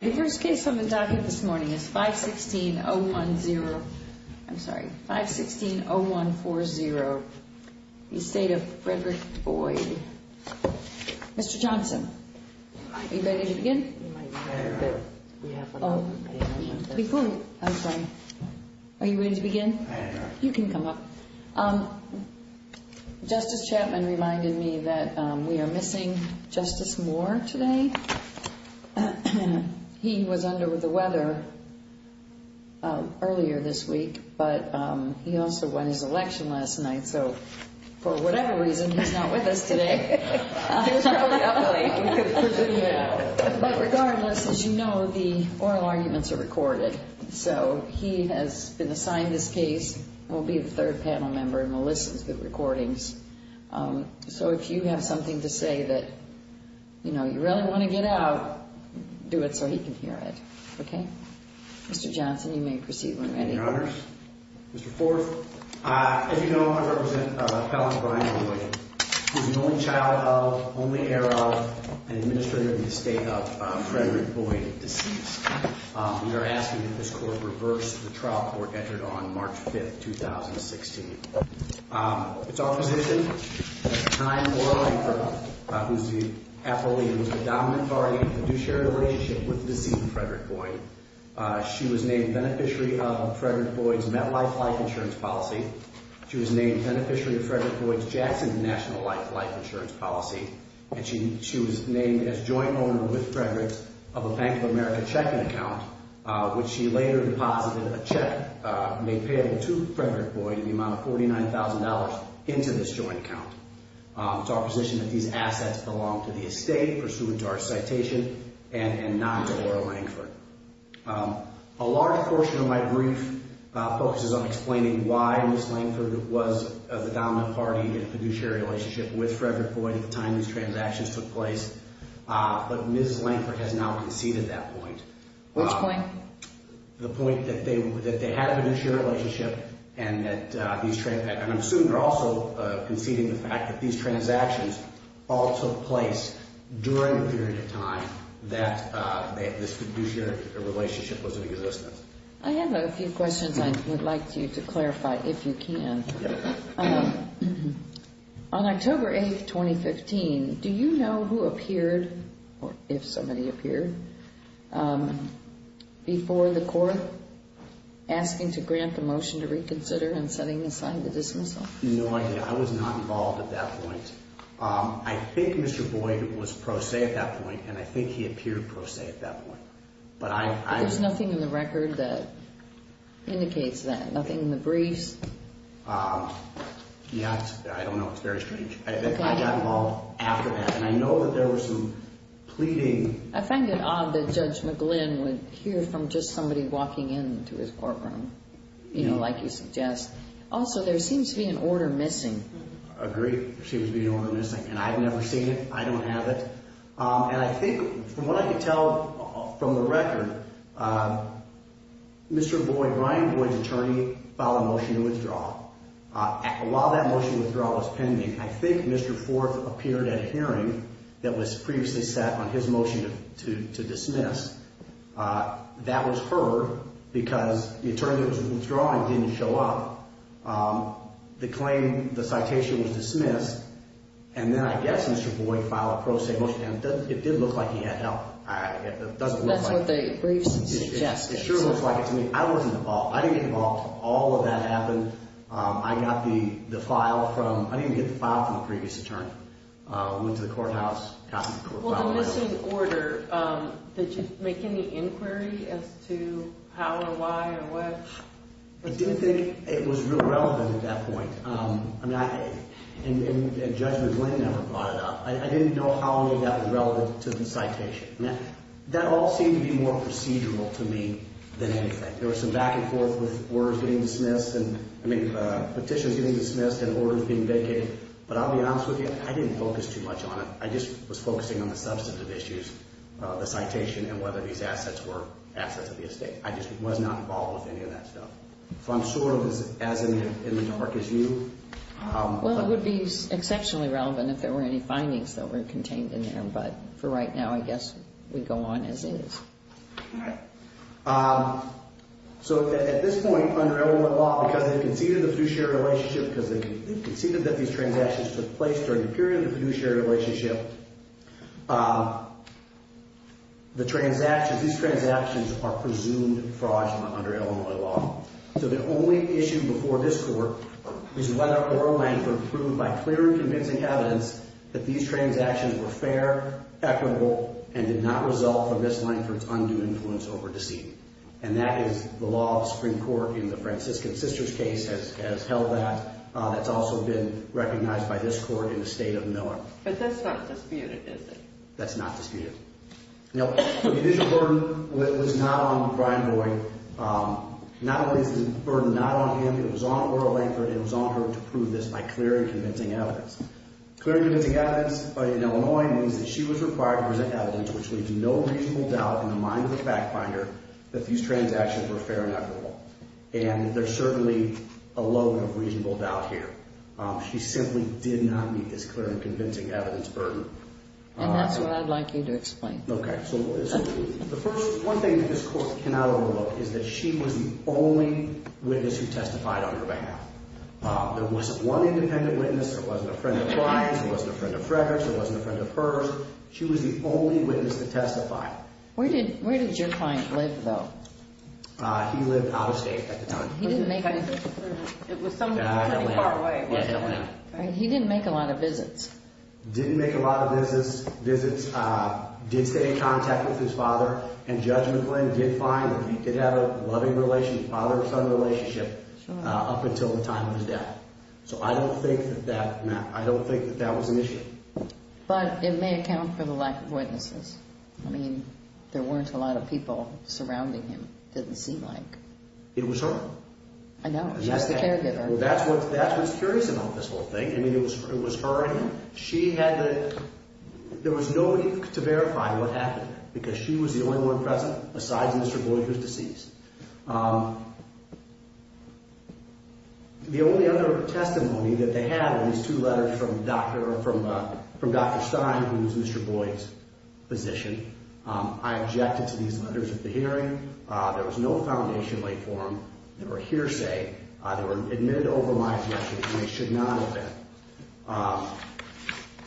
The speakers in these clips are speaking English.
The first case I'm going to talk about this morning is 516-010, I'm sorry, 516-0140, the estate of Frederick Boyd. Mr. Johnson, are you ready to begin? I am. Before you, I'm sorry, are you ready to begin? I am. You can come up. Justice Chapman reminded me that we are missing Justice Moore today. He was under the weather earlier this week, but he also won his election last night, so for whatever reason, he's not with us today. He was probably up late. But regardless, as you know, the oral arguments are recorded, so he has been assigned this case and will be the third panel member and will listen to the recordings. So if you have something to say that, you know, you really want to get out, do it so he can hear it. Okay? Mr. Johnson, you may proceed when ready. Thank you, Your Honors. Mr. Forth, as you know, I represent Helen Brian Boyd, who is the only child of, only heir of, and administrator of the estate of Frederick Boyd, deceased. We are asking that this court reverse the trial court entered on March 5th, 2016. It's our position that Tyne Laura Aker, who's the affiliate who was the dominant party in the fiduciary relationship with the deceased Frederick Boyd, she was named beneficiary of Frederick Boyd's MetLife Life Insurance Policy. She was named beneficiary of Frederick Boyd's Jackson National Life Life Insurance Policy, and she was named as joint owner with Frederick's of a Bank of America checking account, which she later deposited a check made payable to Frederick Boyd in the amount of $49,000 into this joint account. It's our position that these assets belong to the estate, pursuant to our citation, and not to Laura Lankford. A large portion of my brief focuses on explaining why Ms. Lankford was the dominant party in the fiduciary relationship with Frederick Boyd at the time these transactions took place. But Ms. Lankford has now conceded that point. Which point? The point that they had a fiduciary relationship, and I'm assuming they're also conceding the fact that these transactions all took place during the period of time that this fiduciary relationship was in existence. I have a few questions I would like you to clarify, if you can. On October 8, 2015, do you know who appeared, or if somebody appeared, before the court asking to grant the motion to reconsider and setting aside the dismissal? No idea. I was not involved at that point. I think Mr. Boyd was pro se at that point, and I think he appeared pro se at that point. But there's nothing in the record that indicates that, nothing in the briefs? Yeah, I don't know. It's very strange. I got involved after that, and I know that there was some pleading. I find it odd that Judge McGlynn would hear from just somebody walking into his courtroom, you know, like you suggest. Also, there seems to be an order missing. Agreed. There seems to be an order missing. And I've never seen it. I don't have it. And I think, from what I can tell from the record, Mr. Boyd, Brian Boyd's attorney, filed a motion to withdraw. While that motion to withdraw was pending, I think Mr. Forth appeared at a hearing that was previously set on his motion to dismiss. That was heard, because the attorney that was withdrawing didn't show up. The claim, the citation was dismissed, and then I guess Mr. Boyd filed a pro se motion. It did look like he had help. It doesn't look like it. That's what the briefs suggested. It sure looks like it to me. I wasn't involved. I didn't get involved. All of that happened. I got the file from, I didn't even get the file from the previous attorney. Went to the courthouse, got the court file. Well, the missing order, did you make any inquiry as to how or why or what? I didn't think it was real relevant at that point. And Judge McGlynn never brought it up. I didn't know how that was relevant to the citation. That all seemed to be more procedural to me than anything. There was some back and forth with orders getting dismissed and, I mean, petitions getting dismissed and orders being vacated. But I'll be honest with you, I didn't focus too much on it. I just was focusing on the substantive issues, the citation and whether these assets were assets of the estate. I just was not involved with any of that stuff. So I'm sort of as in the dark as you. Well, it would be exceptionally relevant if there were any findings that were contained in there. But for right now, I guess we go on as is. All right. So at this point, under Edelman law, because they conceded the fiduciary relationship, because they conceded that these transactions took place during the period of the fiduciary relationship, the transactions, these transactions are presumed fraudulent under Illinois law. So the only issue before this court is whether or not Lankford proved by clear and convincing evidence that these transactions were fair, equitable, and did not result from Ms. Lankford's undue influence over deceit. And that is the law of the Supreme Court in the Franciscan Sisters case has held that. That's also been recognized by this court in the state of Miller. But that's not disputed, is it? That's not disputed. Now, the fiduciary burden was not on Brian Boyd. Not only is the burden not on him, it was on Laura Lankford. It was on her to prove this by clear and convincing evidence. Clear and convincing evidence in Illinois means that she was required to present evidence which leaves no reasonable doubt in the mind of the fact finder that these transactions were fair and equitable. And there's certainly a load of reasonable doubt here. She simply did not meet this clear and convincing evidence burden. And that's what I'd like you to explain. Okay. So the first one thing that this court cannot overlook is that she was the only witness who testified on her behalf. There wasn't one independent witness. There wasn't a friend of Brian's. There wasn't a friend of Frederick's. There wasn't a friend of hers. She was the only witness that testified. Where did your client live, though? He lived out of state at the time. It was somewhere pretty far away. He didn't make a lot of visits. Didn't make a lot of visits, did stay in contact with his father, and Judge McGlynn did find that he did have a loving father-son relationship up until the time of his death. So I don't think that that was an issue. But it may account for the lack of witnesses. I mean, there weren't a lot of people surrounding him, didn't seem like. It was her. I know. She was the caregiver. Well, that's what's curious about this whole thing. I mean, it was her and him. She had the – there was no need to verify what happened because she was the only one present besides Mr. Boyd, who's deceased. The only other testimony that they had were these two letters from Dr. Stein, who was Mr. Boyd's physician. I objected to these letters at the hearing. There was no foundation laid for them. They were hearsay. They were admitted over my direction, and they should not have been.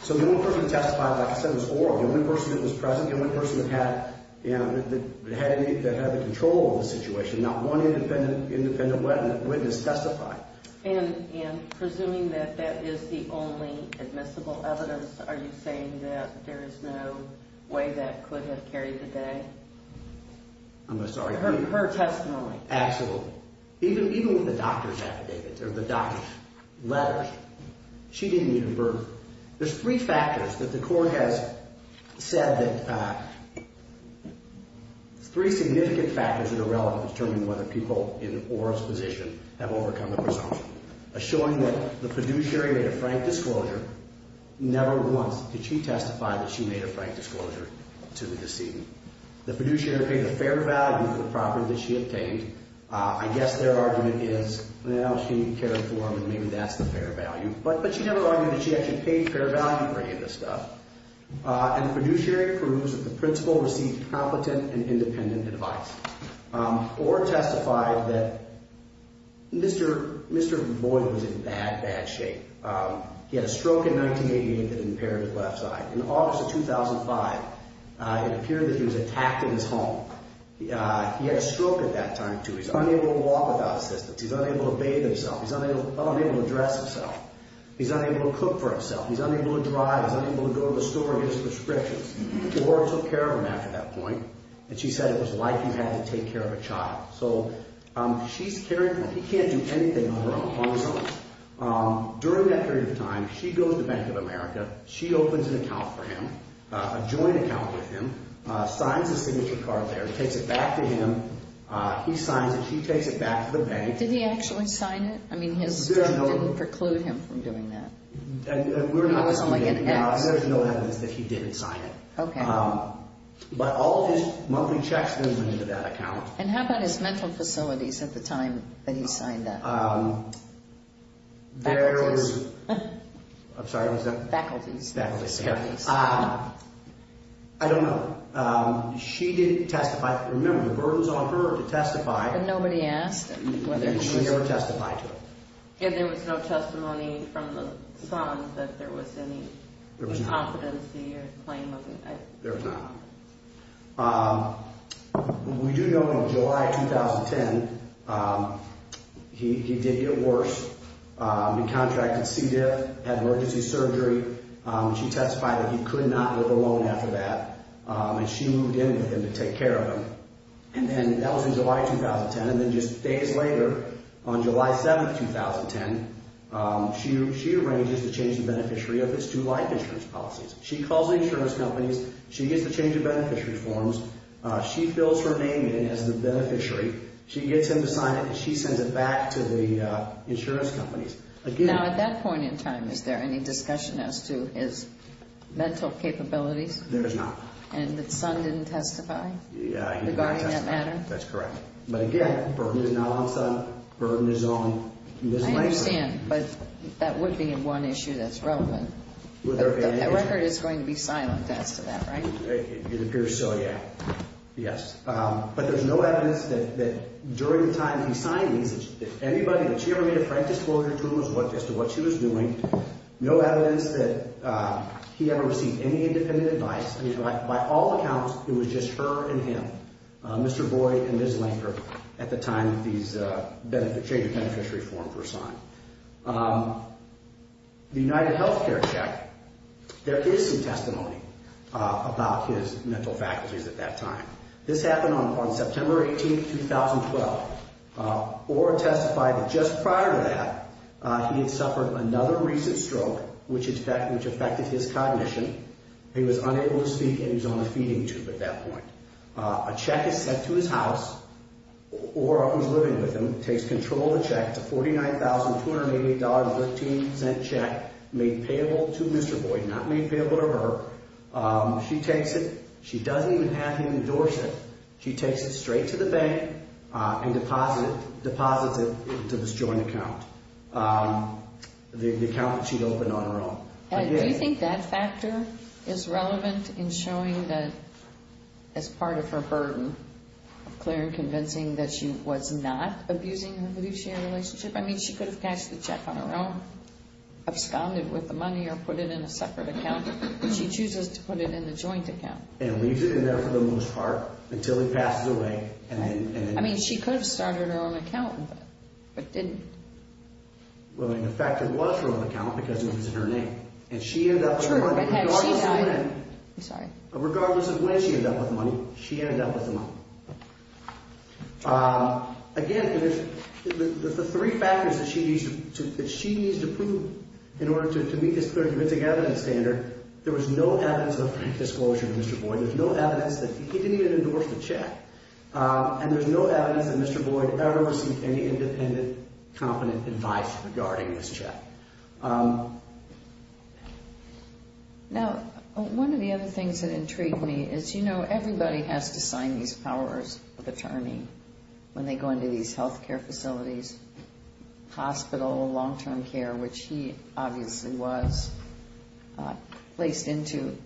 So the only person who testified, like I said, was oral. The only person that was present, the only person that had the control of the situation. Not one independent witness testified. And presuming that that is the only admissible evidence, are you saying that there is no way that could have carried the day? I'm sorry. Her testimony. Absolutely. Even with the doctor's affidavits or the doctor's letters, she didn't need a verdict. There's three factors that the court has said that – three significant factors that are relevant to determining whether people in oral disposition have overcome the presumption. A showing that the fiduciary made a frank disclosure. Never once did she testify that she made a frank disclosure to the decedent. The fiduciary paid a fair value for the property that she obtained. I guess their argument is, well, she cared for him, and maybe that's the fair value. But she never argued that she actually paid fair value for any of this stuff. And the fiduciary proves that the principal received competent and independent advice. Or testified that Mr. Boyd was in bad, bad shape. He had a stroke in 1988 that impaired his left side. In August of 2005, it appeared that he was attacked in his home. He had a stroke at that time, too. He's unable to walk without assistance. He's unable to bathe himself. He's unable to dress himself. He's unable to cook for himself. He's unable to drive. He's unable to go to the store and get his prescriptions. The court took care of him after that point. And she said it was like you had to take care of a child. So she's carrying – he can't do anything on his own. During that period of time, she goes to Bank of America. She opens an account for him, a joint account with him, signs a signature card there, takes it back to him. He signs it. She takes it back to the bank. Did he actually sign it? I mean, his – There are no – Didn't preclude him from doing that? We're not – It doesn't sound like an act. There's no evidence that he didn't sign it. Okay. But all of his monthly checks go into that account. And how about his mental facilities at the time that he signed that? There was – I'm sorry. What was that? Faculties. Faculties. I don't know. She didn't testify. Remember, the burden's on her to testify. But nobody asked him whether he was – And she never testified to it. And there was no testimony from the Sons that there was any – There was not. – inconfidency or claim of – There was not. We do know in July 2010, he did get worse. He contracted C. diff, had emergency surgery. She testified that he could not live alone after that. And she moved in with him to take care of him. And then that was in July 2010. And then just days later, on July 7, 2010, she arranges to change the beneficiary of his two life insurance policies. She calls the insurance companies. She gets the change of beneficiary forms. She fills her name in as the beneficiary. She gets him to sign it, and she sends it back to the insurance companies. Again – Now, at that point in time, is there any discussion as to his mental capabilities? There is not. And the Son didn't testify? Yeah, he didn't testify. Regarding that matter? That's correct. But, again, burden is not on Son. Burden is on Ms. Langford. I understand. But that would be one issue that's relevant. With her family. That record is going to be silent as to that, right? It appears so, yeah. Yes. But there's no evidence that during the time he signed these, that anybody that she ever made a frank disclosure to him as to what she was doing, no evidence that he ever received any independent advice. By all accounts, it was just her and him, Mr. Boyd and Ms. Langford, at the time that these change of beneficiary forms were signed. The UnitedHealthcare check, there is some testimony about his mental faculties at that time. This happened on September 18, 2012. Ora testified that just prior to that, he had suffered another recent stroke, which affected his cognition. He was unable to speak and he was on a feeding tube at that point. A check is sent to his house. Ora, who's living with him, takes control of the check. It's a $49,288.13 check made payable to Mr. Boyd, not made payable to her. She takes it. She doesn't even have him endorse it. She takes it straight to the bank and deposits it into this joint account, the account that she'd opened on her own. Do you think that factor is relevant in showing that as part of her burden, of clear and convincing that she was not abusing her beneficiary relationship? I mean, she could have cashed the check on her own, absconded with the money or put it in a separate account. She chooses to put it in the joint account. And leaves it in there for the most part until he passes away. I mean, she could have started her own account, but didn't. Well, in effect, it was her own account because it was in her name. And she ended up with money regardless of when. I'm sorry. Again, the three factors that she needs to prove in order to meet this clear and convincing evidence standard, there was no evidence of a frank disclosure of Mr. Boyd. There's no evidence that he didn't even endorse the check. And there's no evidence that Mr. Boyd ever received any independent, competent advice regarding this check. Now, one of the other things that intrigued me is, you know, everybody has to sign these powers of attorney when they go into these health care facilities, hospital, long-term care, which he obviously was placed into.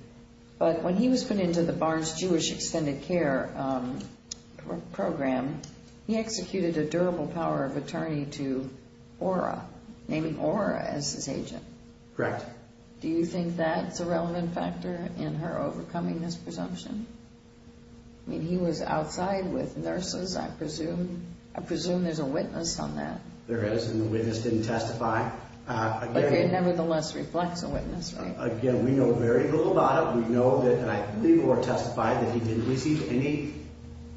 But when he was put into the Barnes-Jewish Extended Care Program, he executed a durable power of attorney to Ora, naming Ora as his agent. Correct. Do you think that's a relevant factor in her overcoming this presumption? I mean, he was outside with nurses, I presume. I presume there's a witness on that. There is, and the witness didn't testify. But it nevertheless reflects a witness, right? Again, we know very little about it. We know that, and I think Ora testified, that he didn't receive any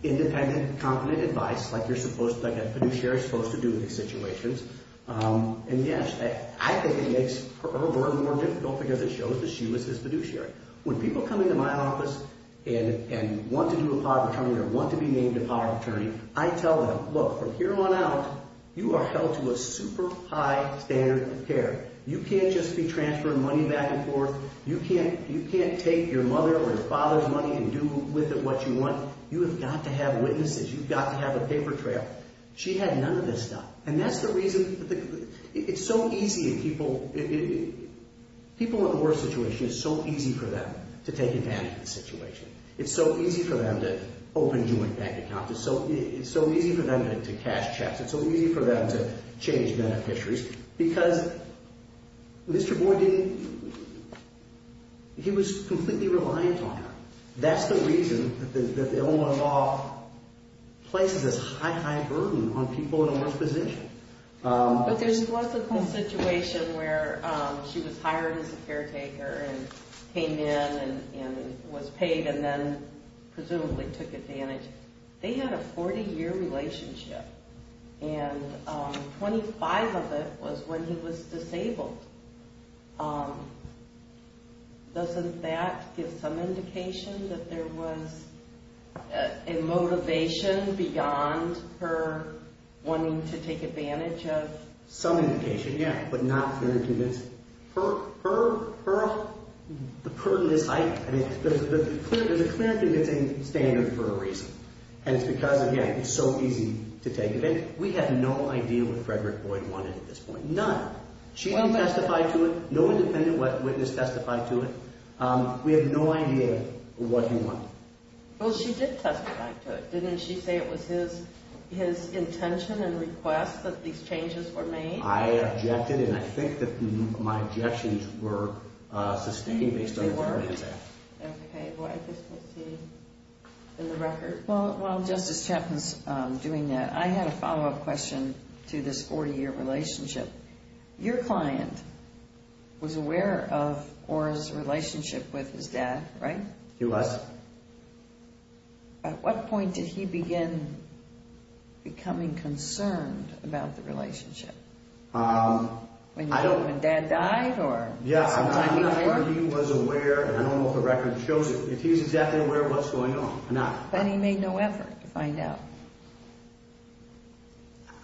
independent, competent advice like a fiduciary is supposed to do in these situations. And, yes, I think it makes her more and more difficult because it shows that she was his fiduciary. When people come into my office and want to do a power of attorney or want to be named a power of attorney, I tell them, look, from here on out, you are held to a super high standard of care. You can't just be transferring money back and forth. You can't take your mother or your father's money and do with it what you want. You have got to have witnesses. You've got to have a paper trail. She had none of this stuff. And that's the reason that it's so easy in people, people in the worst situation, it's so easy for them to take advantage of the situation. It's so easy for them to open joint bank accounts. It's so easy for them to cash checks. It's so easy for them to change beneficiaries because Mr. Boyd didn't, he was completely reliant on her. That's the reason that the Owen Law places this high, high burden on people in the worst position. But there wasn't the situation where she was hired as a caretaker and came in and was paid and then presumably took advantage. They had a 40-year relationship, and 25 of it was when he was disabled. Doesn't that give some indication that there was a motivation beyond her wanting to take advantage of... Some indication, yeah, but not clear and convincing. Her, her, her, the burden is high. There's a clear and convincing standard for a reason. And it's because, again, it's so easy to take advantage. We have no idea what Frederick Boyd wanted at this point. None. She didn't testify to it. No independent witness testified to it. We have no idea what he wanted. Well, she did testify to it. Didn't she say it was his intention and request that these changes were made? I objected, and I think that my objections were sustained based on what I had said. Okay, well, I guess we'll see in the record. While Justice Chapman's doing that, I had a follow-up question to this 40-year relationship. Your client was aware of Ora's relationship with his dad, right? He was. At what point did he begin becoming concerned about the relationship? When dad died or... Yeah, I'm not sure he was aware, and I don't know if the record shows it, if he's exactly aware of what's going on or not. But he made no effort to find out.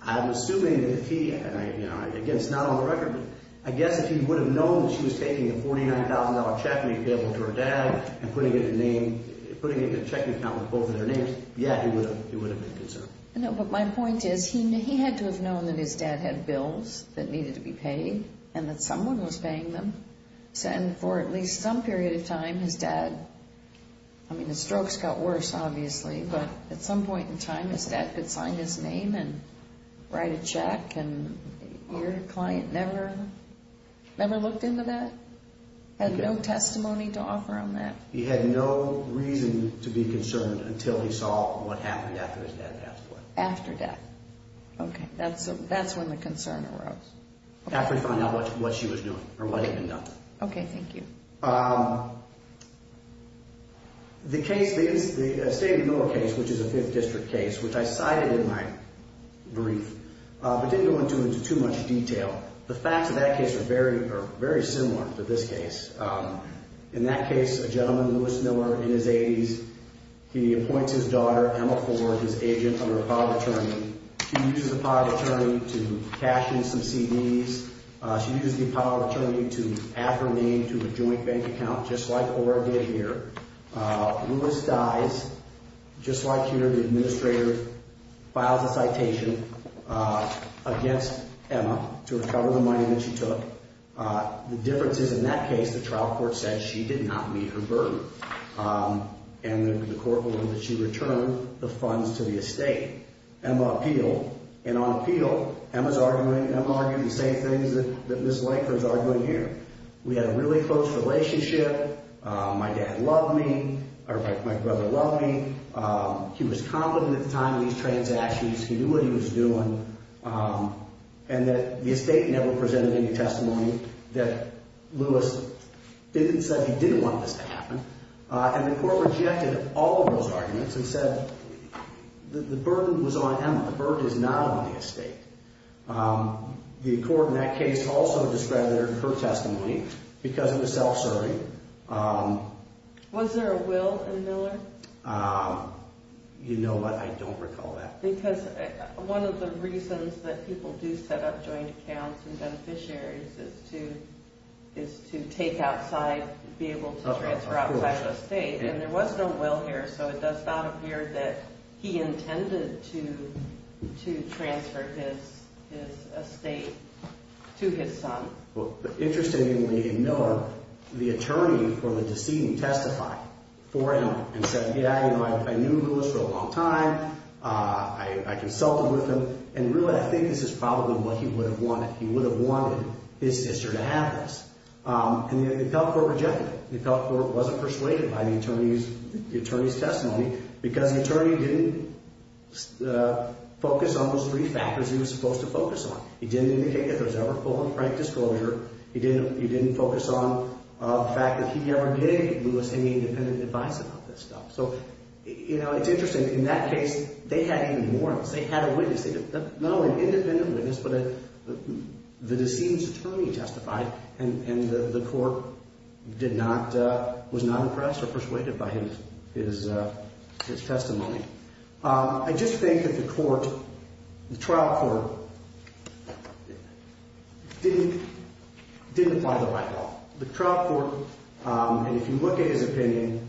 I'm assuming that if he... Again, it's not on the record, but I guess if he would have known that she was taking a $49,000 check and being available to her dad and putting it in a check account with both of their names, yeah, he would have been concerned. No, but my point is he had to have known that his dad had bills that needed to be paid and that someone was paying them. And for at least some period of time, his dad... I mean, his strokes got worse, obviously, but at some point in time his dad could sign his name and write a check, and your client never looked into that, had no testimony to offer on that? He had no reason to be concerned until he saw what happened after his dad passed away. After death. Okay, that's when the concern arose. After he found out what she was doing or what had been done. Okay, thank you. The case, the Staley-Miller case, which is a 5th District case, which I cited in my brief but didn't go into too much detail. The facts of that case are very similar to this case. In that case, a gentleman, Lewis Miller, in his 80s, he appoints his daughter, Emma Ford, his agent under a power of attorney. She uses the power of attorney to cash in some CDs. She uses the power of attorney to add her name to a joint bank account, just like Ora did here. Lewis dies. Just like here, the administrator files a citation against Emma to recover the money that she took. The difference is, in that case, the trial court said she did not meet her burden, and the court ruled that she returned the funds to the estate. Emma appealed, and on appeal, Emma's arguing the same things that Ms. Laker is arguing here. We had a really close relationship. My dad loved me, or my brother loved me. He was confident at the time of these transactions. He knew what he was doing, and that the estate never presented any testimony that Lewis didn't say he didn't want this to happen. And the court rejected all of those arguments and said the burden was on Emma. The burden is not on the estate. The court in that case also discredited her testimony because of the self-serving. Was there a will in Miller? You know, but I don't recall that. Because one of the reasons that people do set up joint accounts and beneficiaries is to take outside, be able to transfer outside of the estate, and there was no will here, so it does not appear that he intended to transfer his estate to his son. Interestingly, in Miller, the attorney for the decedent testified for Emma and said, yeah, you know, I knew Lewis for a long time. I consulted with him, and really I think this is probably what he would have wanted. He would have wanted his sister to have this. And the appellate court rejected it. The appellate court wasn't persuaded by the attorney's testimony because the attorney didn't focus on those three factors he was supposed to focus on. He didn't indicate that there was ever full and frank disclosure. He didn't focus on the fact that he ever gave Lewis any independent advice about this stuff. So, you know, it's interesting. In that case, they had even more. They had a witness. Not only an independent witness, but the decedent's attorney testified, and the court was not impressed or persuaded by his testimony. I just think that the trial court didn't apply the right law. The trial court, and if you look at his opinion,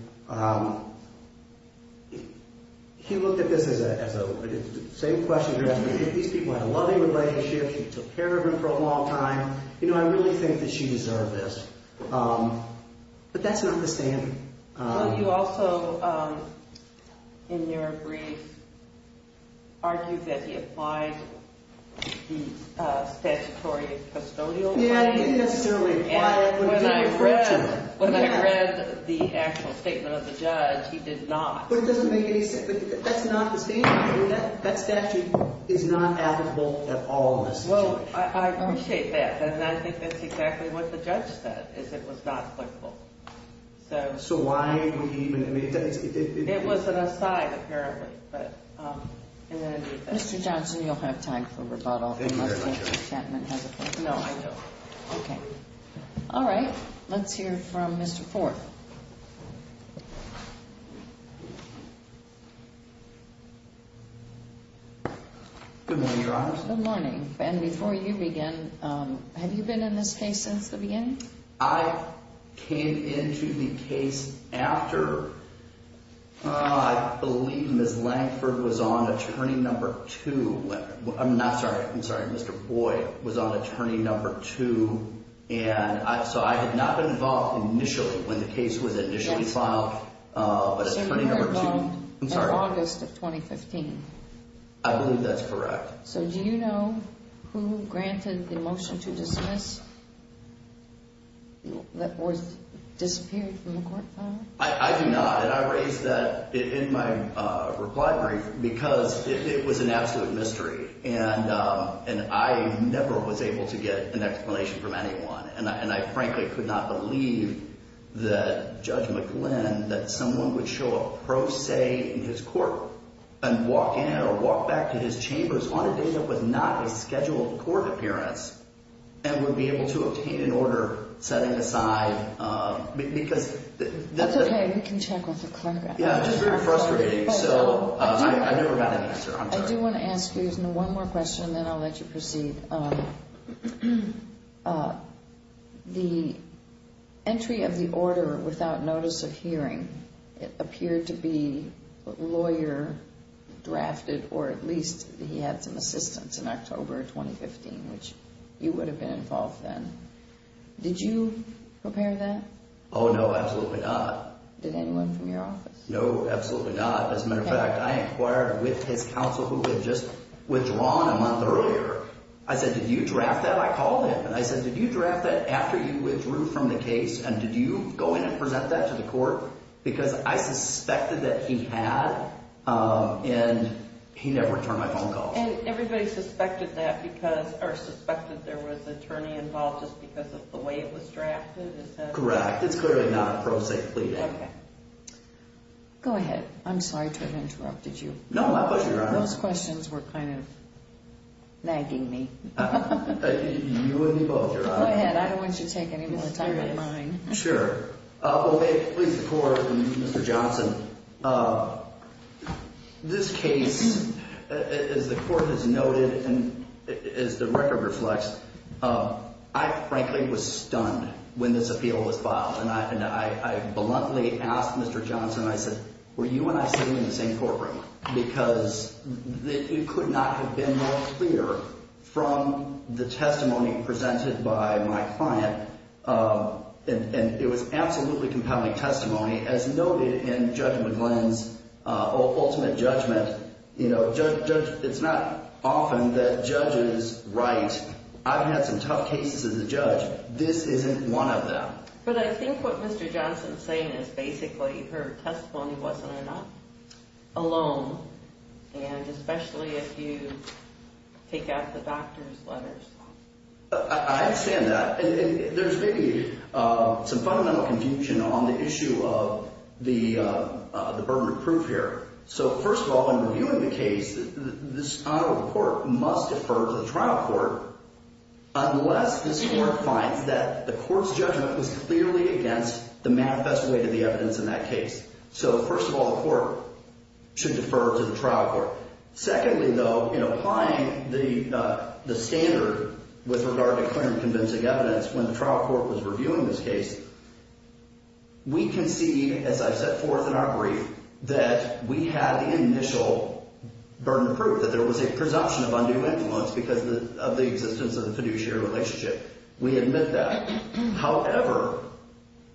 he looked at this as the same question you're asking. These people had a loving relationship. He took care of them for a long time. You know, I really think that she deserved this. But that's not the standard. Well, you also, in your brief, argued that he applied the statutory custodial right. Yeah, he didn't necessarily apply it. When I read the actual statement of the judge, he did not. But it doesn't make any sense. That's not the standard. That statute is not applicable at all in this situation. I appreciate that. And I think that's exactly what the judge said, is it was not applicable. So why would he even – It was an aside, apparently. Mr. Johnson, you'll have time for rebuttal. Thank you very much. Unless Mr. Chapman has a point. No, I don't. All right. Let's hear from Mr. Forth. Good morning, Your Honor. Good morning. And before you begin, have you been in this case since the beginning? I came into the case after, I believe, Ms. Lankford was on attorney number two. I'm not sorry. I'm sorry. Mr. Boyd was on attorney number two. And so I had not been involved initially when the case was initially filed. But attorney number two – So you were involved in August of 2015. I believe that's correct. So do you know who granted the motion to dismiss that was disappeared from the court file? I do not. And I raised that in my reply brief because it was an absolute mystery. And I never was able to get an explanation from anyone. And I frankly could not believe that Judge McGlynn, that someone would show a pro se in his court and walk in or walk back to his chambers on a day that was not a scheduled court appearance and would be able to obtain an order setting aside because – That's okay. We can check with the clerk. Yeah, it's just very frustrating. So I never got an answer. I'm sorry. I do want to ask you one more question, then I'll let you proceed. And the entry of the order without notice of hearing, it appeared to be lawyer drafted or at least he had some assistance in October of 2015, which you would have been involved then. Did you prepare that? Oh, no, absolutely not. Did anyone from your office? No, absolutely not. As a matter of fact, I inquired with his counsel who had just withdrawn a month earlier. I said, did you draft that? I called him and I said, did you draft that after you withdrew from the case and did you go in and present that to the court? Because I suspected that he had and he never returned my phone calls. And everybody suspected that because – or suspected there was an attorney involved just because of the way it was drafted? Is that correct? Correct. It's clearly not pro se pleading. Okay. Go ahead. I'm sorry to have interrupted you. No, my pleasure, Your Honor. Those questions were kind of nagging me. You and me both, Your Honor. Go ahead. I don't want you to take any more time than mine. Sure. Well, may it please the Court and Mr. Johnson, this case, as the Court has noted and as the record reflects, I frankly was stunned when this appeal was filed and I bluntly asked Mr. Johnson, I said, were you and I sitting in the same courtroom? Because it could not have been more clear from the testimony presented by my client. And it was absolutely compelling testimony. As noted in Judge McGlynn's ultimate judgment, you know, it's not often that judges write, I've had some tough cases as a judge. This isn't one of them. But I think what Mr. Johnson is saying is basically her testimony wasn't enough, alone, and especially if you take out the doctor's letters. I understand that. And there's maybe some fundamental confusion on the issue of the burden of proof here. So, first of all, in reviewing the case, this Honorable Court must defer to the trial court unless this Court finds that the Court's judgment was clearly against the manifest way to the evidence in that case. So, first of all, the Court should defer to the trial court. Secondly, though, in applying the standard with regard to clear and convincing evidence when the trial court was reviewing this case, we can see, as I've set forth in our brief, that we have the initial burden of proof, that there was a presumption of undue influence because of the existence of the fiduciary relationship. We admit that. However,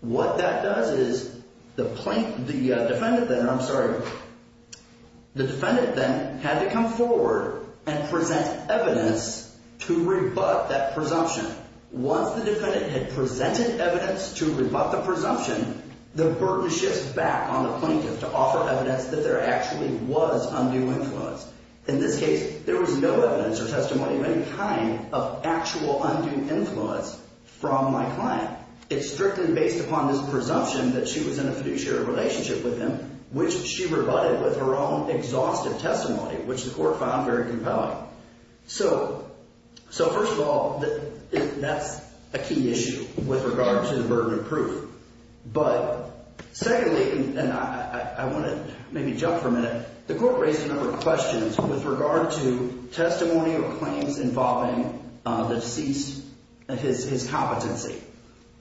what that does is the defendant then had to come forward and present evidence to rebut that presumption. Once the defendant had presented evidence to rebut the presumption, the burden shifts back on the plaintiff to offer evidence that there actually was undue influence. In this case, there was no evidence or testimony of any kind of actual undue influence from my client. It's strictly based upon this presumption that she was in a fiduciary relationship with him, which she rebutted with her own exhaustive testimony, which the Court found very compelling. So, first of all, that's a key issue with regard to the burden of proof. But secondly, and I want to maybe jump for a minute, the Court raised a number of questions with regard to testimony or claims involving the deceased, his competency.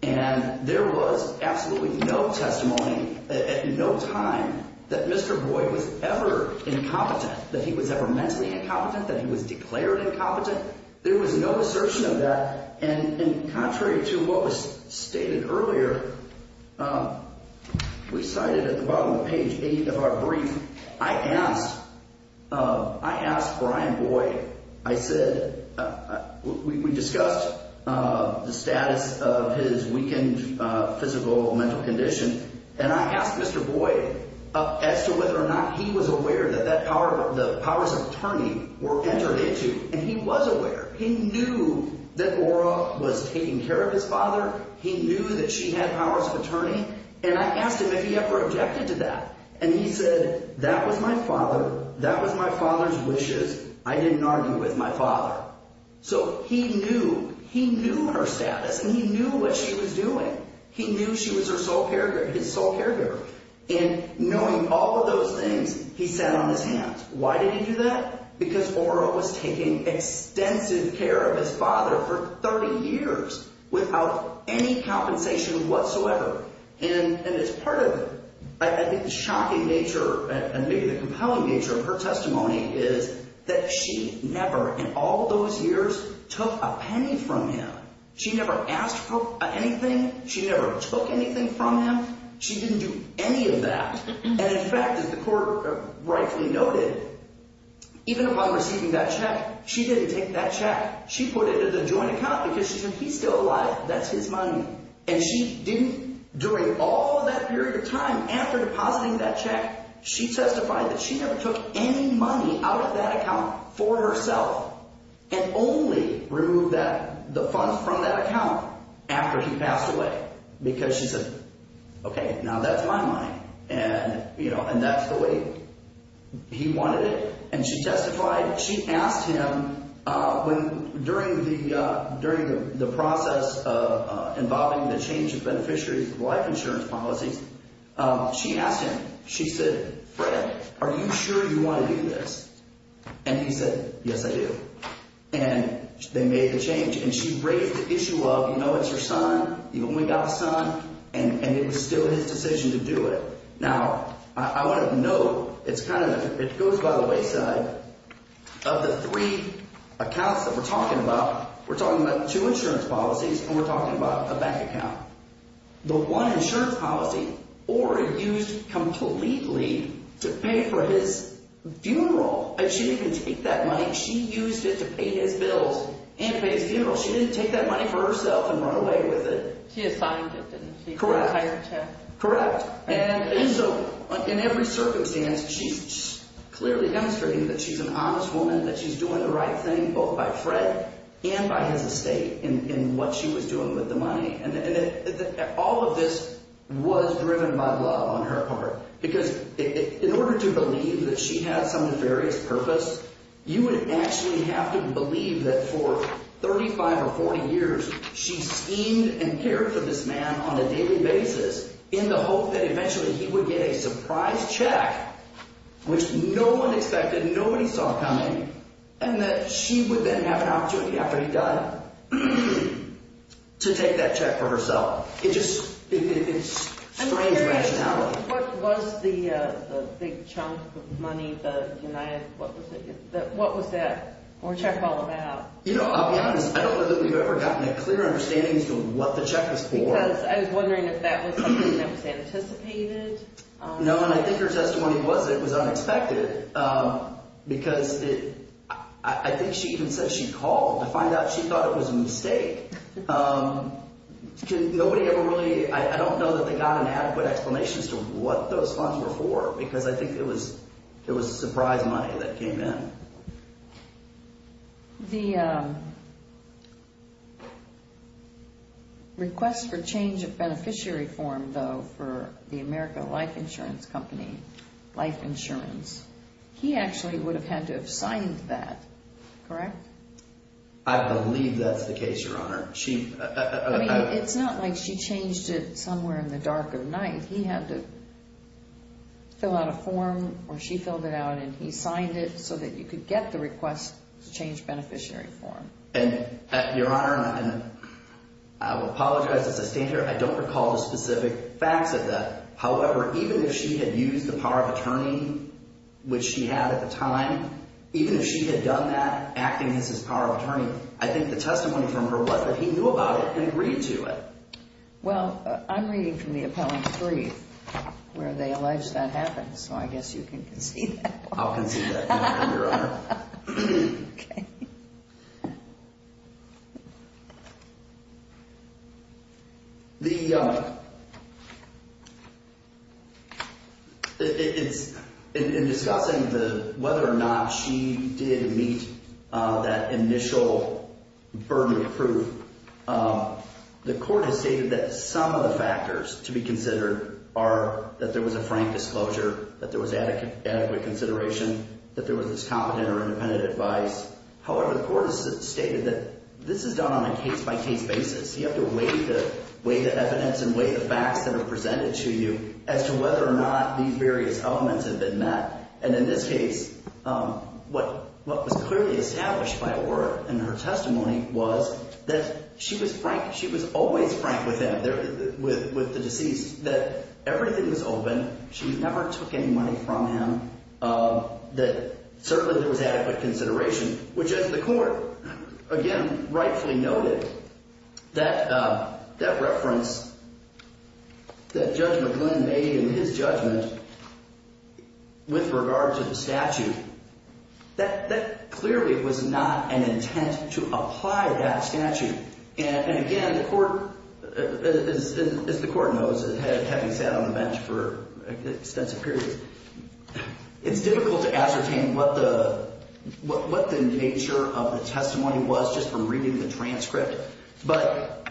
And there was absolutely no testimony at no time that Mr. Boyd was ever incompetent, that he was ever mentally incompetent, that he was declared incompetent. There was no assertion of that. And contrary to what was stated earlier, we cited at the bottom of page 8 of our brief, I asked Brian Boyd, I said, we discussed the status of his weakened physical or mental condition, and I asked Mr. Boyd as to whether or not he was aware that the powers of attorney were entered into. And he was aware. He knew that Ora was taking care of his father. He knew that she had powers of attorney. And I asked him if he ever objected to that. And he said, that was my father. That was my father's wishes. I didn't argue with my father. So he knew. He knew her status, and he knew what she was doing. He knew she was his sole caregiver. And knowing all of those things, he sat on his hands. Why did he do that? Because Ora was taking extensive care of his father for 30 years without any compensation whatsoever. And as part of it, I think the shocking nature and maybe the compelling nature of her testimony is that she never in all those years took a penny from him. She never asked for anything. She never took anything from him. She didn't do any of that. And in fact, as the court rightfully noted, even upon receiving that check, she didn't take that check. She put it in a joint account because she said, he's still alive. That's his money. And she didn't, during all of that period of time, after depositing that check, she testified that she never took any money out of that account for herself and only removed the funds from that account after he passed away because she said, okay, now that's my money. And that's the way he wanted it. And she testified. She asked him during the process involving the change of beneficiaries' life insurance policies, she asked him, she said, Fred, are you sure you want to do this? And he said, yes, I do. And they made the change. And she raised the issue of, you know, it's your son. You only got a son, and it was still his decision to do it. Now, I want to note it's kind of – it goes by the wayside of the three accounts that we're talking about. We're talking about two insurance policies, and we're talking about a bank account. The one insurance policy, Ora used completely to pay for his funeral. And she didn't even take that money. She used it to pay his bills and to pay his funeral. She didn't take that money for herself and run away with it. She assigned it, didn't she? Correct. For the entire check. Correct. And so in every circumstance, she's clearly demonstrating that she's an honest woman, that she's doing the right thing both by Fred and by his estate in what she was doing with the money. And all of this was driven by love on her part because in order to believe that she had some nefarious purpose, you would actually have to believe that for 35 or 40 years she schemed and cared for this man on a daily basis in the hope that eventually he would get a surprise check, which no one expected, nobody saw coming, and that she would then have an opportunity after he died to take that check for herself. It just – it's strange rationality. What was the big chunk of money, the United – what was that check all about? You know, I'll be honest. I don't know that we've ever gotten a clear understanding as to what the check was for. Because I was wondering if that was something that was anticipated. No, and I think her testimony was that it was unexpected because I think she even said she called to find out she thought it was a mistake. Nobody ever really – I don't know that they got an adequate explanation as to what those funds were for because I think it was surprise money that came in. The request for change of beneficiary form, though, for the America Life Insurance Company, life insurance, he actually would have had to have signed that, correct? I believe that's the case, Your Honor. She – I mean, it's not like she changed it somewhere in the dark of night. He had to fill out a form, or she filled it out, and he signed it so that you could get the request to change beneficiary form. And, Your Honor, and I will apologize as I stand here. I don't recall the specific facts of that. However, even if she had used the power of attorney, which she had at the time, even if she had done that, acting as his power of attorney, I think the testimony from her was that he knew about it and agreed to it. Well, I'm reading from the appellant's brief where they allege that happened, so I guess you can concede that one. I'll concede that one, Your Honor. Okay. Okay. The – in discussing whether or not she did meet that initial burden of proof, the court has stated that some of the factors to be considered are that there was a frank disclosure, that there was adequate consideration, that there was competent or independent advice. However, the court has stated that this is done on a case-by-case basis. You have to weigh the evidence and weigh the facts that are presented to you as to whether or not these various elements have been met. And in this case, what was clearly established by a word in her testimony was that she was frank. She was always frank with him, with the deceased, that everything was open. She never took any money from him, that certainly there was adequate consideration, which, as the court, again, rightfully noted, that reference that Judge McLuhan made in his judgment with regard to the statute, that clearly was not an intent to apply that statute. And again, the court – as the court knows, having sat on the bench for extensive periods, it's difficult to ascertain what the nature of the testimony was just from reading the transcript. But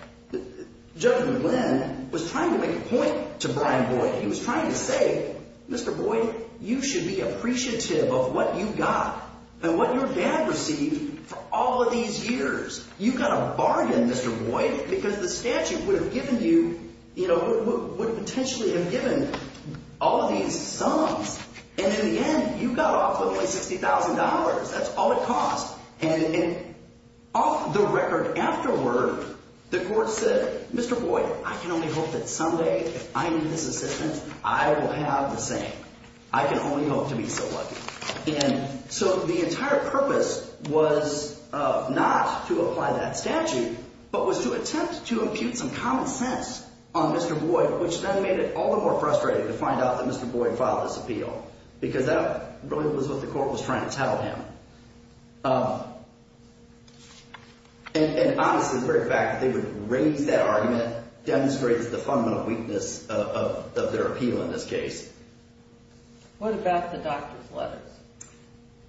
Judge McLuhan was trying to make a point to Brian Boyd. He was trying to say, Mr. Boyd, you should be appreciative of what you got and what your dad received for all of these years. You got a bargain, Mr. Boyd, because the statute would have given you – would potentially have given all of these sums. And in the end, you got off with only $60,000. That's all it cost. And off the record afterward, the court said, Mr. Boyd, I can only hope that someday, if I need this assistance, I will have the same. I can only hope to be so lucky. And so the entire purpose was not to apply that statute, but was to attempt to impute some common sense on Mr. Boyd, which then made it all the more frustrating to find out that Mr. Boyd filed this appeal because that really was what the court was trying to tell him. And obviously, the very fact that they would raise that argument demonstrates the fundamental weakness of their appeal in this case. What about the doctor's letters?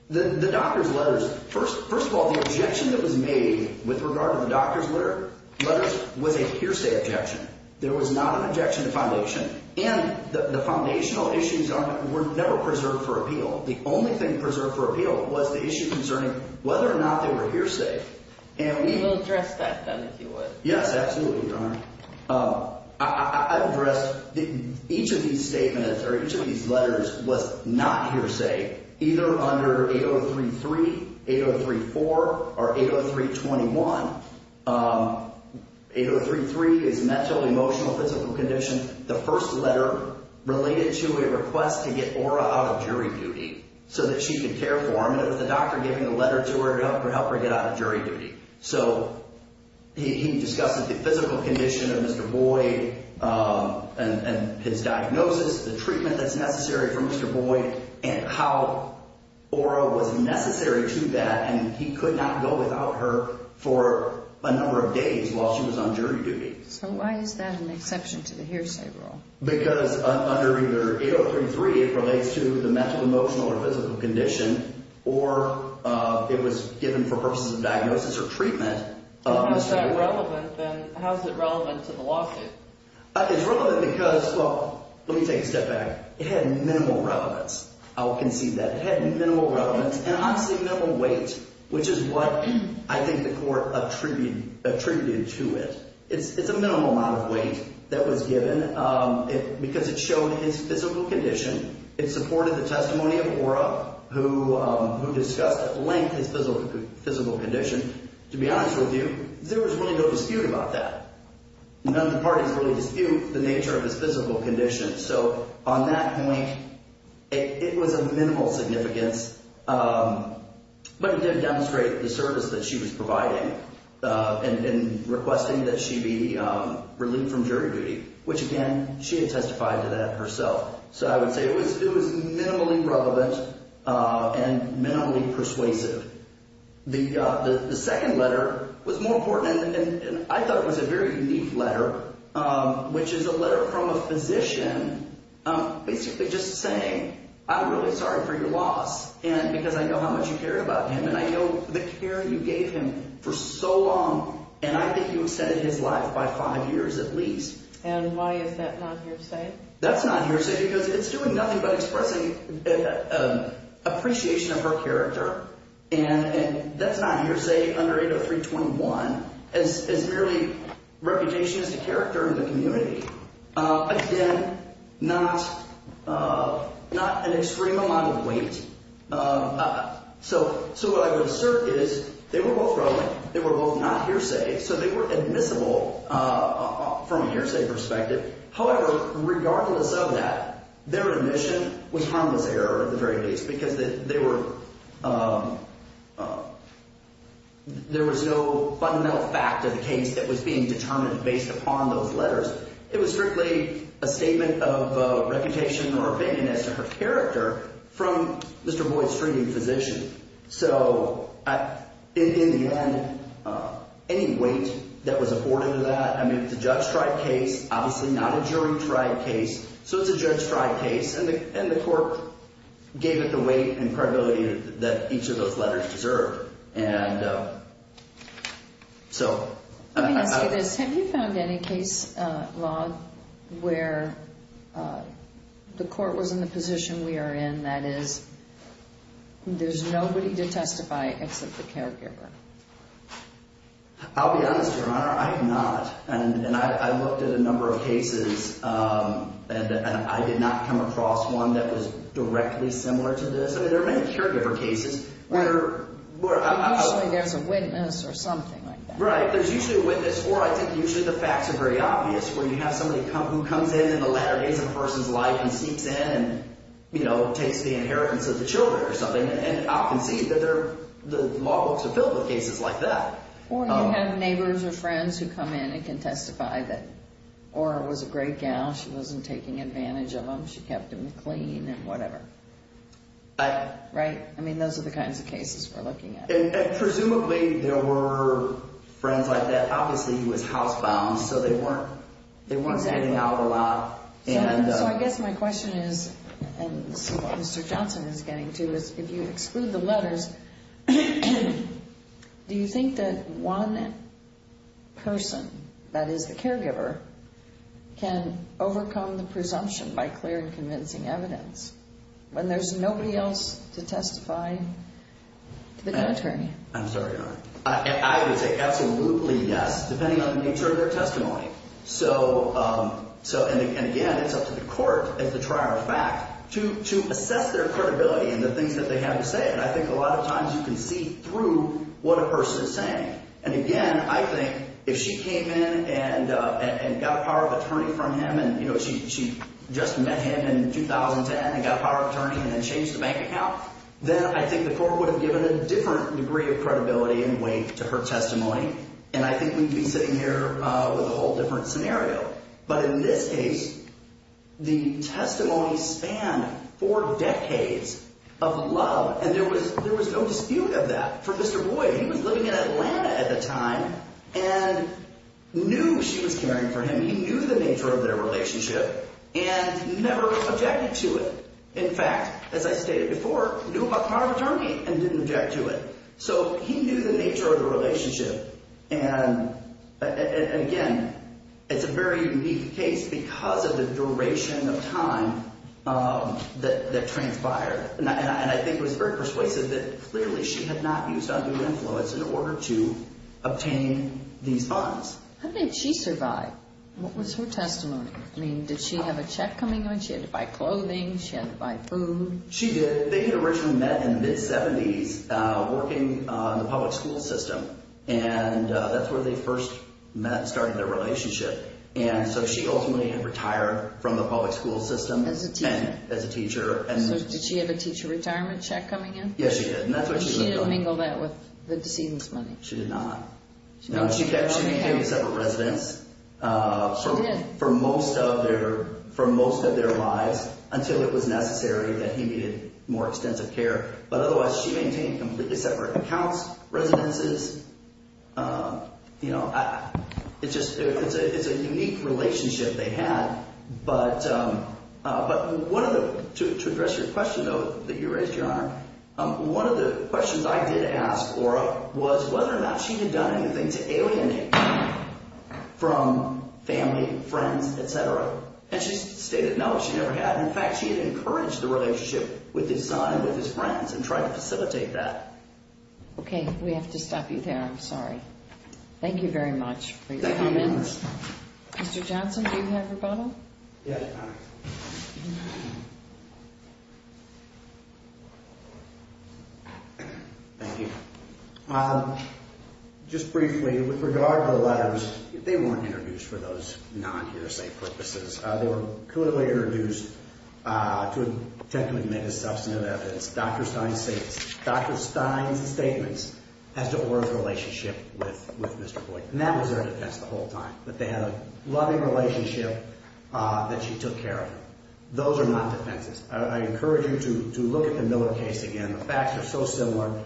The doctor's letters, first of all, the objection that was made with regard to the doctor's letters was a hearsay objection. There was not an objection to foundation. And the foundational issues were never preserved for appeal. The only thing preserved for appeal was the issue concerning whether or not they were hearsay. We will address that, then, if you would. Yes, absolutely, Your Honor. I've addressed each of these statements or each of these letters was not hearsay, either under 8033, 8034, or 80321. 8033 is mental, emotional, physical condition. The first letter related to a request to get Ora out of jury duty so that she could care for him, and it was the doctor giving a letter to her to help her get out of jury duty. So he discussed the physical condition of Mr. Boyd and his diagnosis, the treatment that's necessary for Mr. Boyd, and how Ora was necessary to that, and he could not go without her for a number of days while she was on jury duty. So why is that an exception to the hearsay rule? Because under either 8033, it relates to the mental, emotional, or physical condition, or it was given for purposes of diagnosis or treatment. If that's relevant, then how is it relevant to the lawsuit? It's relevant because, well, let me take a step back. It had minimal relevance. I will concede that. It had minimal relevance and, obviously, minimal weight, which is what I think the court attributed to it. It's a minimal amount of weight that was given because it showed his physical condition. It supported the testimony of Ora, who discussed at length his physical condition. To be honest with you, there was really no dispute about that. None of the parties really dispute the nature of his physical condition. So on that point, it was of minimal significance, but it did demonstrate the service that she was providing in requesting that she be relieved from jury duty, which, again, she had testified to that herself. So I would say it was minimally relevant and minimally persuasive. The second letter was more important, and I thought it was a very unique letter, which is a letter from a physician basically just saying, I'm really sorry for your loss because I know how much you cared about him, and I know the care you gave him for so long, and I think you extended his life by five years at least. And why is that not hearsay? That's not hearsay because it's doing nothing but expressing appreciation of her character, and that's not hearsay under 80321 as merely reputation as a character in the community. Again, not an extreme amount of weight. So what I would assert is they were both relevant. They were both not hearsay, so they were admissible from a hearsay perspective. However, regardless of that, their admission was harmless error at the very least because there was no fundamental fact of the case that was being determined based upon those letters. It was strictly a statement of reputation or opinion as to her character from Mr. Boyd's treating physician. So in the end, any weight that was afforded to that, I mean, it's a judge-tried case, obviously not a jury-tried case, so it's a judge-tried case, and the court gave it the weight and credibility that each of those letters deserved. Let me ask you this. Have you found any case law where the court was in the position we are in, that is there's nobody to testify except the caregiver? I'll be honest, Your Honor. I have not, and I looked at a number of cases, and I did not come across one that was directly similar to this. I mean, there are many caregiver cases. Usually there's a witness or something like that. Right. There's usually a witness, or I think usually the facts are very obvious, where you have somebody who comes in in the latter days of a person's life and sneaks in and, you know, takes the inheritance of the children or something, and I'll concede that the law books are filled with cases like that. Or you have neighbors or friends who come in and can testify that Ora was a great gal, she wasn't taking advantage of them, she kept them clean and whatever. Right? I mean, those are the kinds of cases we're looking at. And presumably there were friends like that. Obviously he was housebound, so they weren't getting out a lot. So I guess my question is, and this is what Mr. Johnson is getting to, is if you exclude the letters, do you think that one person, that is, the caregiver, can overcome the presumption by clear and convincing evidence when there's nobody else to testify to become an attorney? I'm sorry, Your Honor. I would say absolutely yes, depending on the nature of their testimony. So, and again, it's up to the court, as the trial is back, to assess their credibility and the things that they have to say. And I think a lot of times you can see through what a person is saying. And again, I think if she came in and got a power of attorney from him, and, you know, she just met him in 2010 and got a power of attorney and then changed the bank account, then I think the court would have given a different degree of credibility and weight to her testimony. And I think we'd be sitting here with a whole different scenario. But in this case, the testimony spanned four decades of love, and there was no dispute of that for Mr. Roy. He was living in Atlanta at the time and knew she was caring for him. He knew the nature of their relationship and never objected to it. In fact, as I stated before, knew about power of attorney and didn't object to it. So he knew the nature of the relationship. And again, it's a very unique case because of the duration of time that transpired. And I think it was very persuasive that clearly she had not used undue influence in order to obtain these funds. How did she survive? What was her testimony? I mean, did she have a check coming in? She had to buy clothing. She had to buy food. She did. They had originally met in the mid-'70s working on the public school system, and that's where they first met and started their relationship. And so she ultimately had retired from the public school system as a teacher. So did she have a teacher retirement check coming in? Yes, she did, and that's what she was doing. She didn't mingle that with the decedent's money? She did not. No, she kept him in separate residence for most of their lives until it was necessary that he needed more extensive care. But otherwise, she maintained completely separate accounts, residences. It's a unique relationship they had. But to address your question, though, that you raised, Your Honor, one of the questions I did ask Ora was whether or not she had done anything to alienate him from family, friends, et cetera. And she stated no, she never had. In fact, she had encouraged the relationship with his son and with his friends and tried to facilitate that. Okay. We have to stop you there. I'm sorry. Thank you very much for your comments. Thank you, Your Honor. Mr. Johnson, do you have your bottle? Yes, Your Honor. Thank you. Just briefly, with regard to the letters, they weren't introduced for those non-hearsay purposes. They were clearly introduced to attempt to admit as substantive evidence Dr. Stein's statements as to Ora's relationship with Mr. Boyd. And that was their defense the whole time, that they had a loving relationship that she took care of. Those are not defenses. I encourage you to look at the Miller case again. The facts are so similar.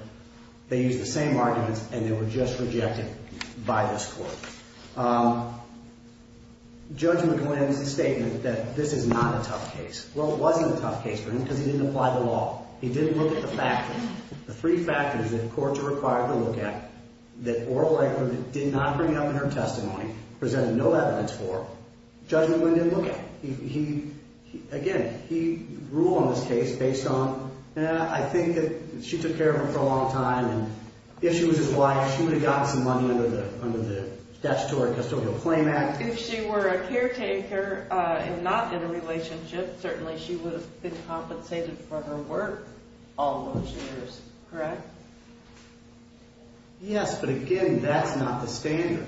They used the same arguments, and they were just rejected by this court. Judge McGlynn's statement that this is not a tough case. Well, it wasn't a tough case for him because he didn't apply the law. He didn't look at the factors, the three factors that courts are required to look at that Oral Eggman did not bring up in her testimony, presented no evidence for, Judge McGlynn didn't look at. Again, he ruled on this case based on, I think that she took care of him for a long time, and if she was his wife, she would have gotten some money under the Statutory Custodial Claim Act. If she were a caretaker and not in a relationship, certainly she would have been compensated for her work all those years, correct? Yes, but again, that's not the standard.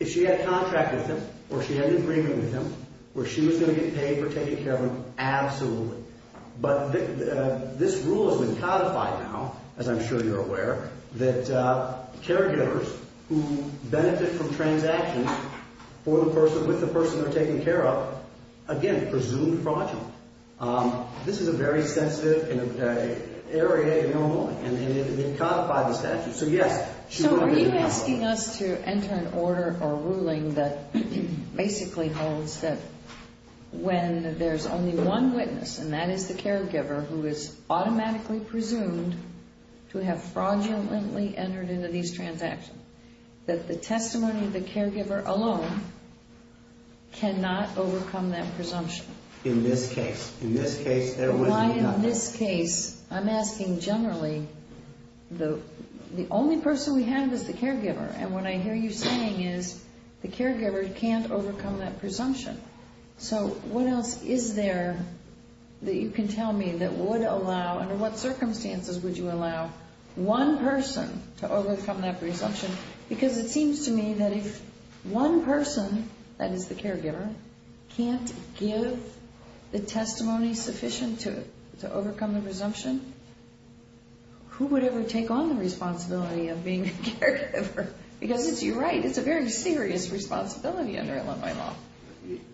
If she had a contract with him, or she had an agreement with him, where she was going to get paid for taking care of him, absolutely. But this rule has been codified now, as I'm sure you're aware, that caregivers who benefit from transactions with the person they're taking care of, again, presumed fraudulent. This is a very sensitive area in Illinois, and they've codified the statute. So, yes, she would have been compensated. You're asking us to enter an order or ruling that basically holds that when there's only one witness, and that is the caregiver, who is automatically presumed to have fraudulently entered into these transactions, that the testimony of the caregiver alone cannot overcome that presumption. In this case. In this case, there would be nothing. In this case, I'm asking generally, the only person we have is the caregiver, and what I hear you saying is the caregiver can't overcome that presumption. So what else is there that you can tell me that would allow, under what circumstances would you allow one person to overcome that presumption? Because it seems to me that if one person, that is the caregiver, can't give the testimony sufficient to overcome the presumption, who would ever take on the responsibility of being a caregiver? Because you're right, it's a very serious responsibility under Illinois law.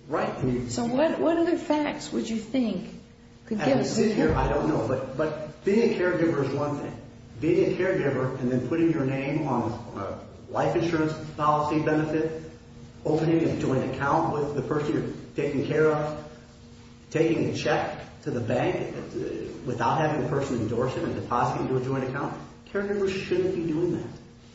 Right. So what other facts would you think could give us a clue? I don't know, but being a caregiver is one thing. Being a caregiver and then putting your name on a life insurance policy benefit, opening a joint account with the person you're taking care of, taking a check to the bank without having the person endorse it and deposit it into a joint account. Caregivers shouldn't be doing that.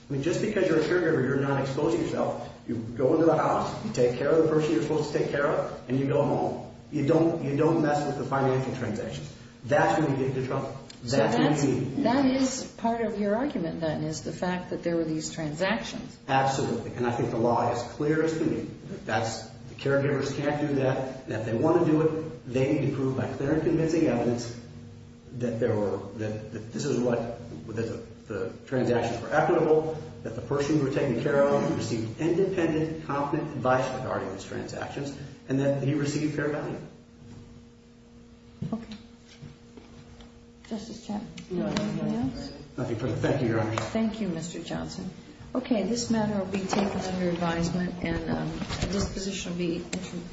I mean, just because you're a caregiver, you're not exposing yourself. You go into the house, you take care of the person you're supposed to take care of, and you go home. You don't mess with the financial transactions. That's when you get into trouble. So that is part of your argument, then, is the fact that there were these transactions. Absolutely. And I think the law is clear as can be. The caregivers can't do that. If they want to do it, they need to prove by clear and convincing evidence that this is what the transactions were equitable, that the person you were taking care of received independent, confident advice regarding these transactions, and that he received fair value. Okay. Justice Chapman, do you have anything else? Nothing further. Thank you, Your Honor. Thank you, Mr. Johnson. Okay. This matter will be taken under advisement, and this position will be introduced.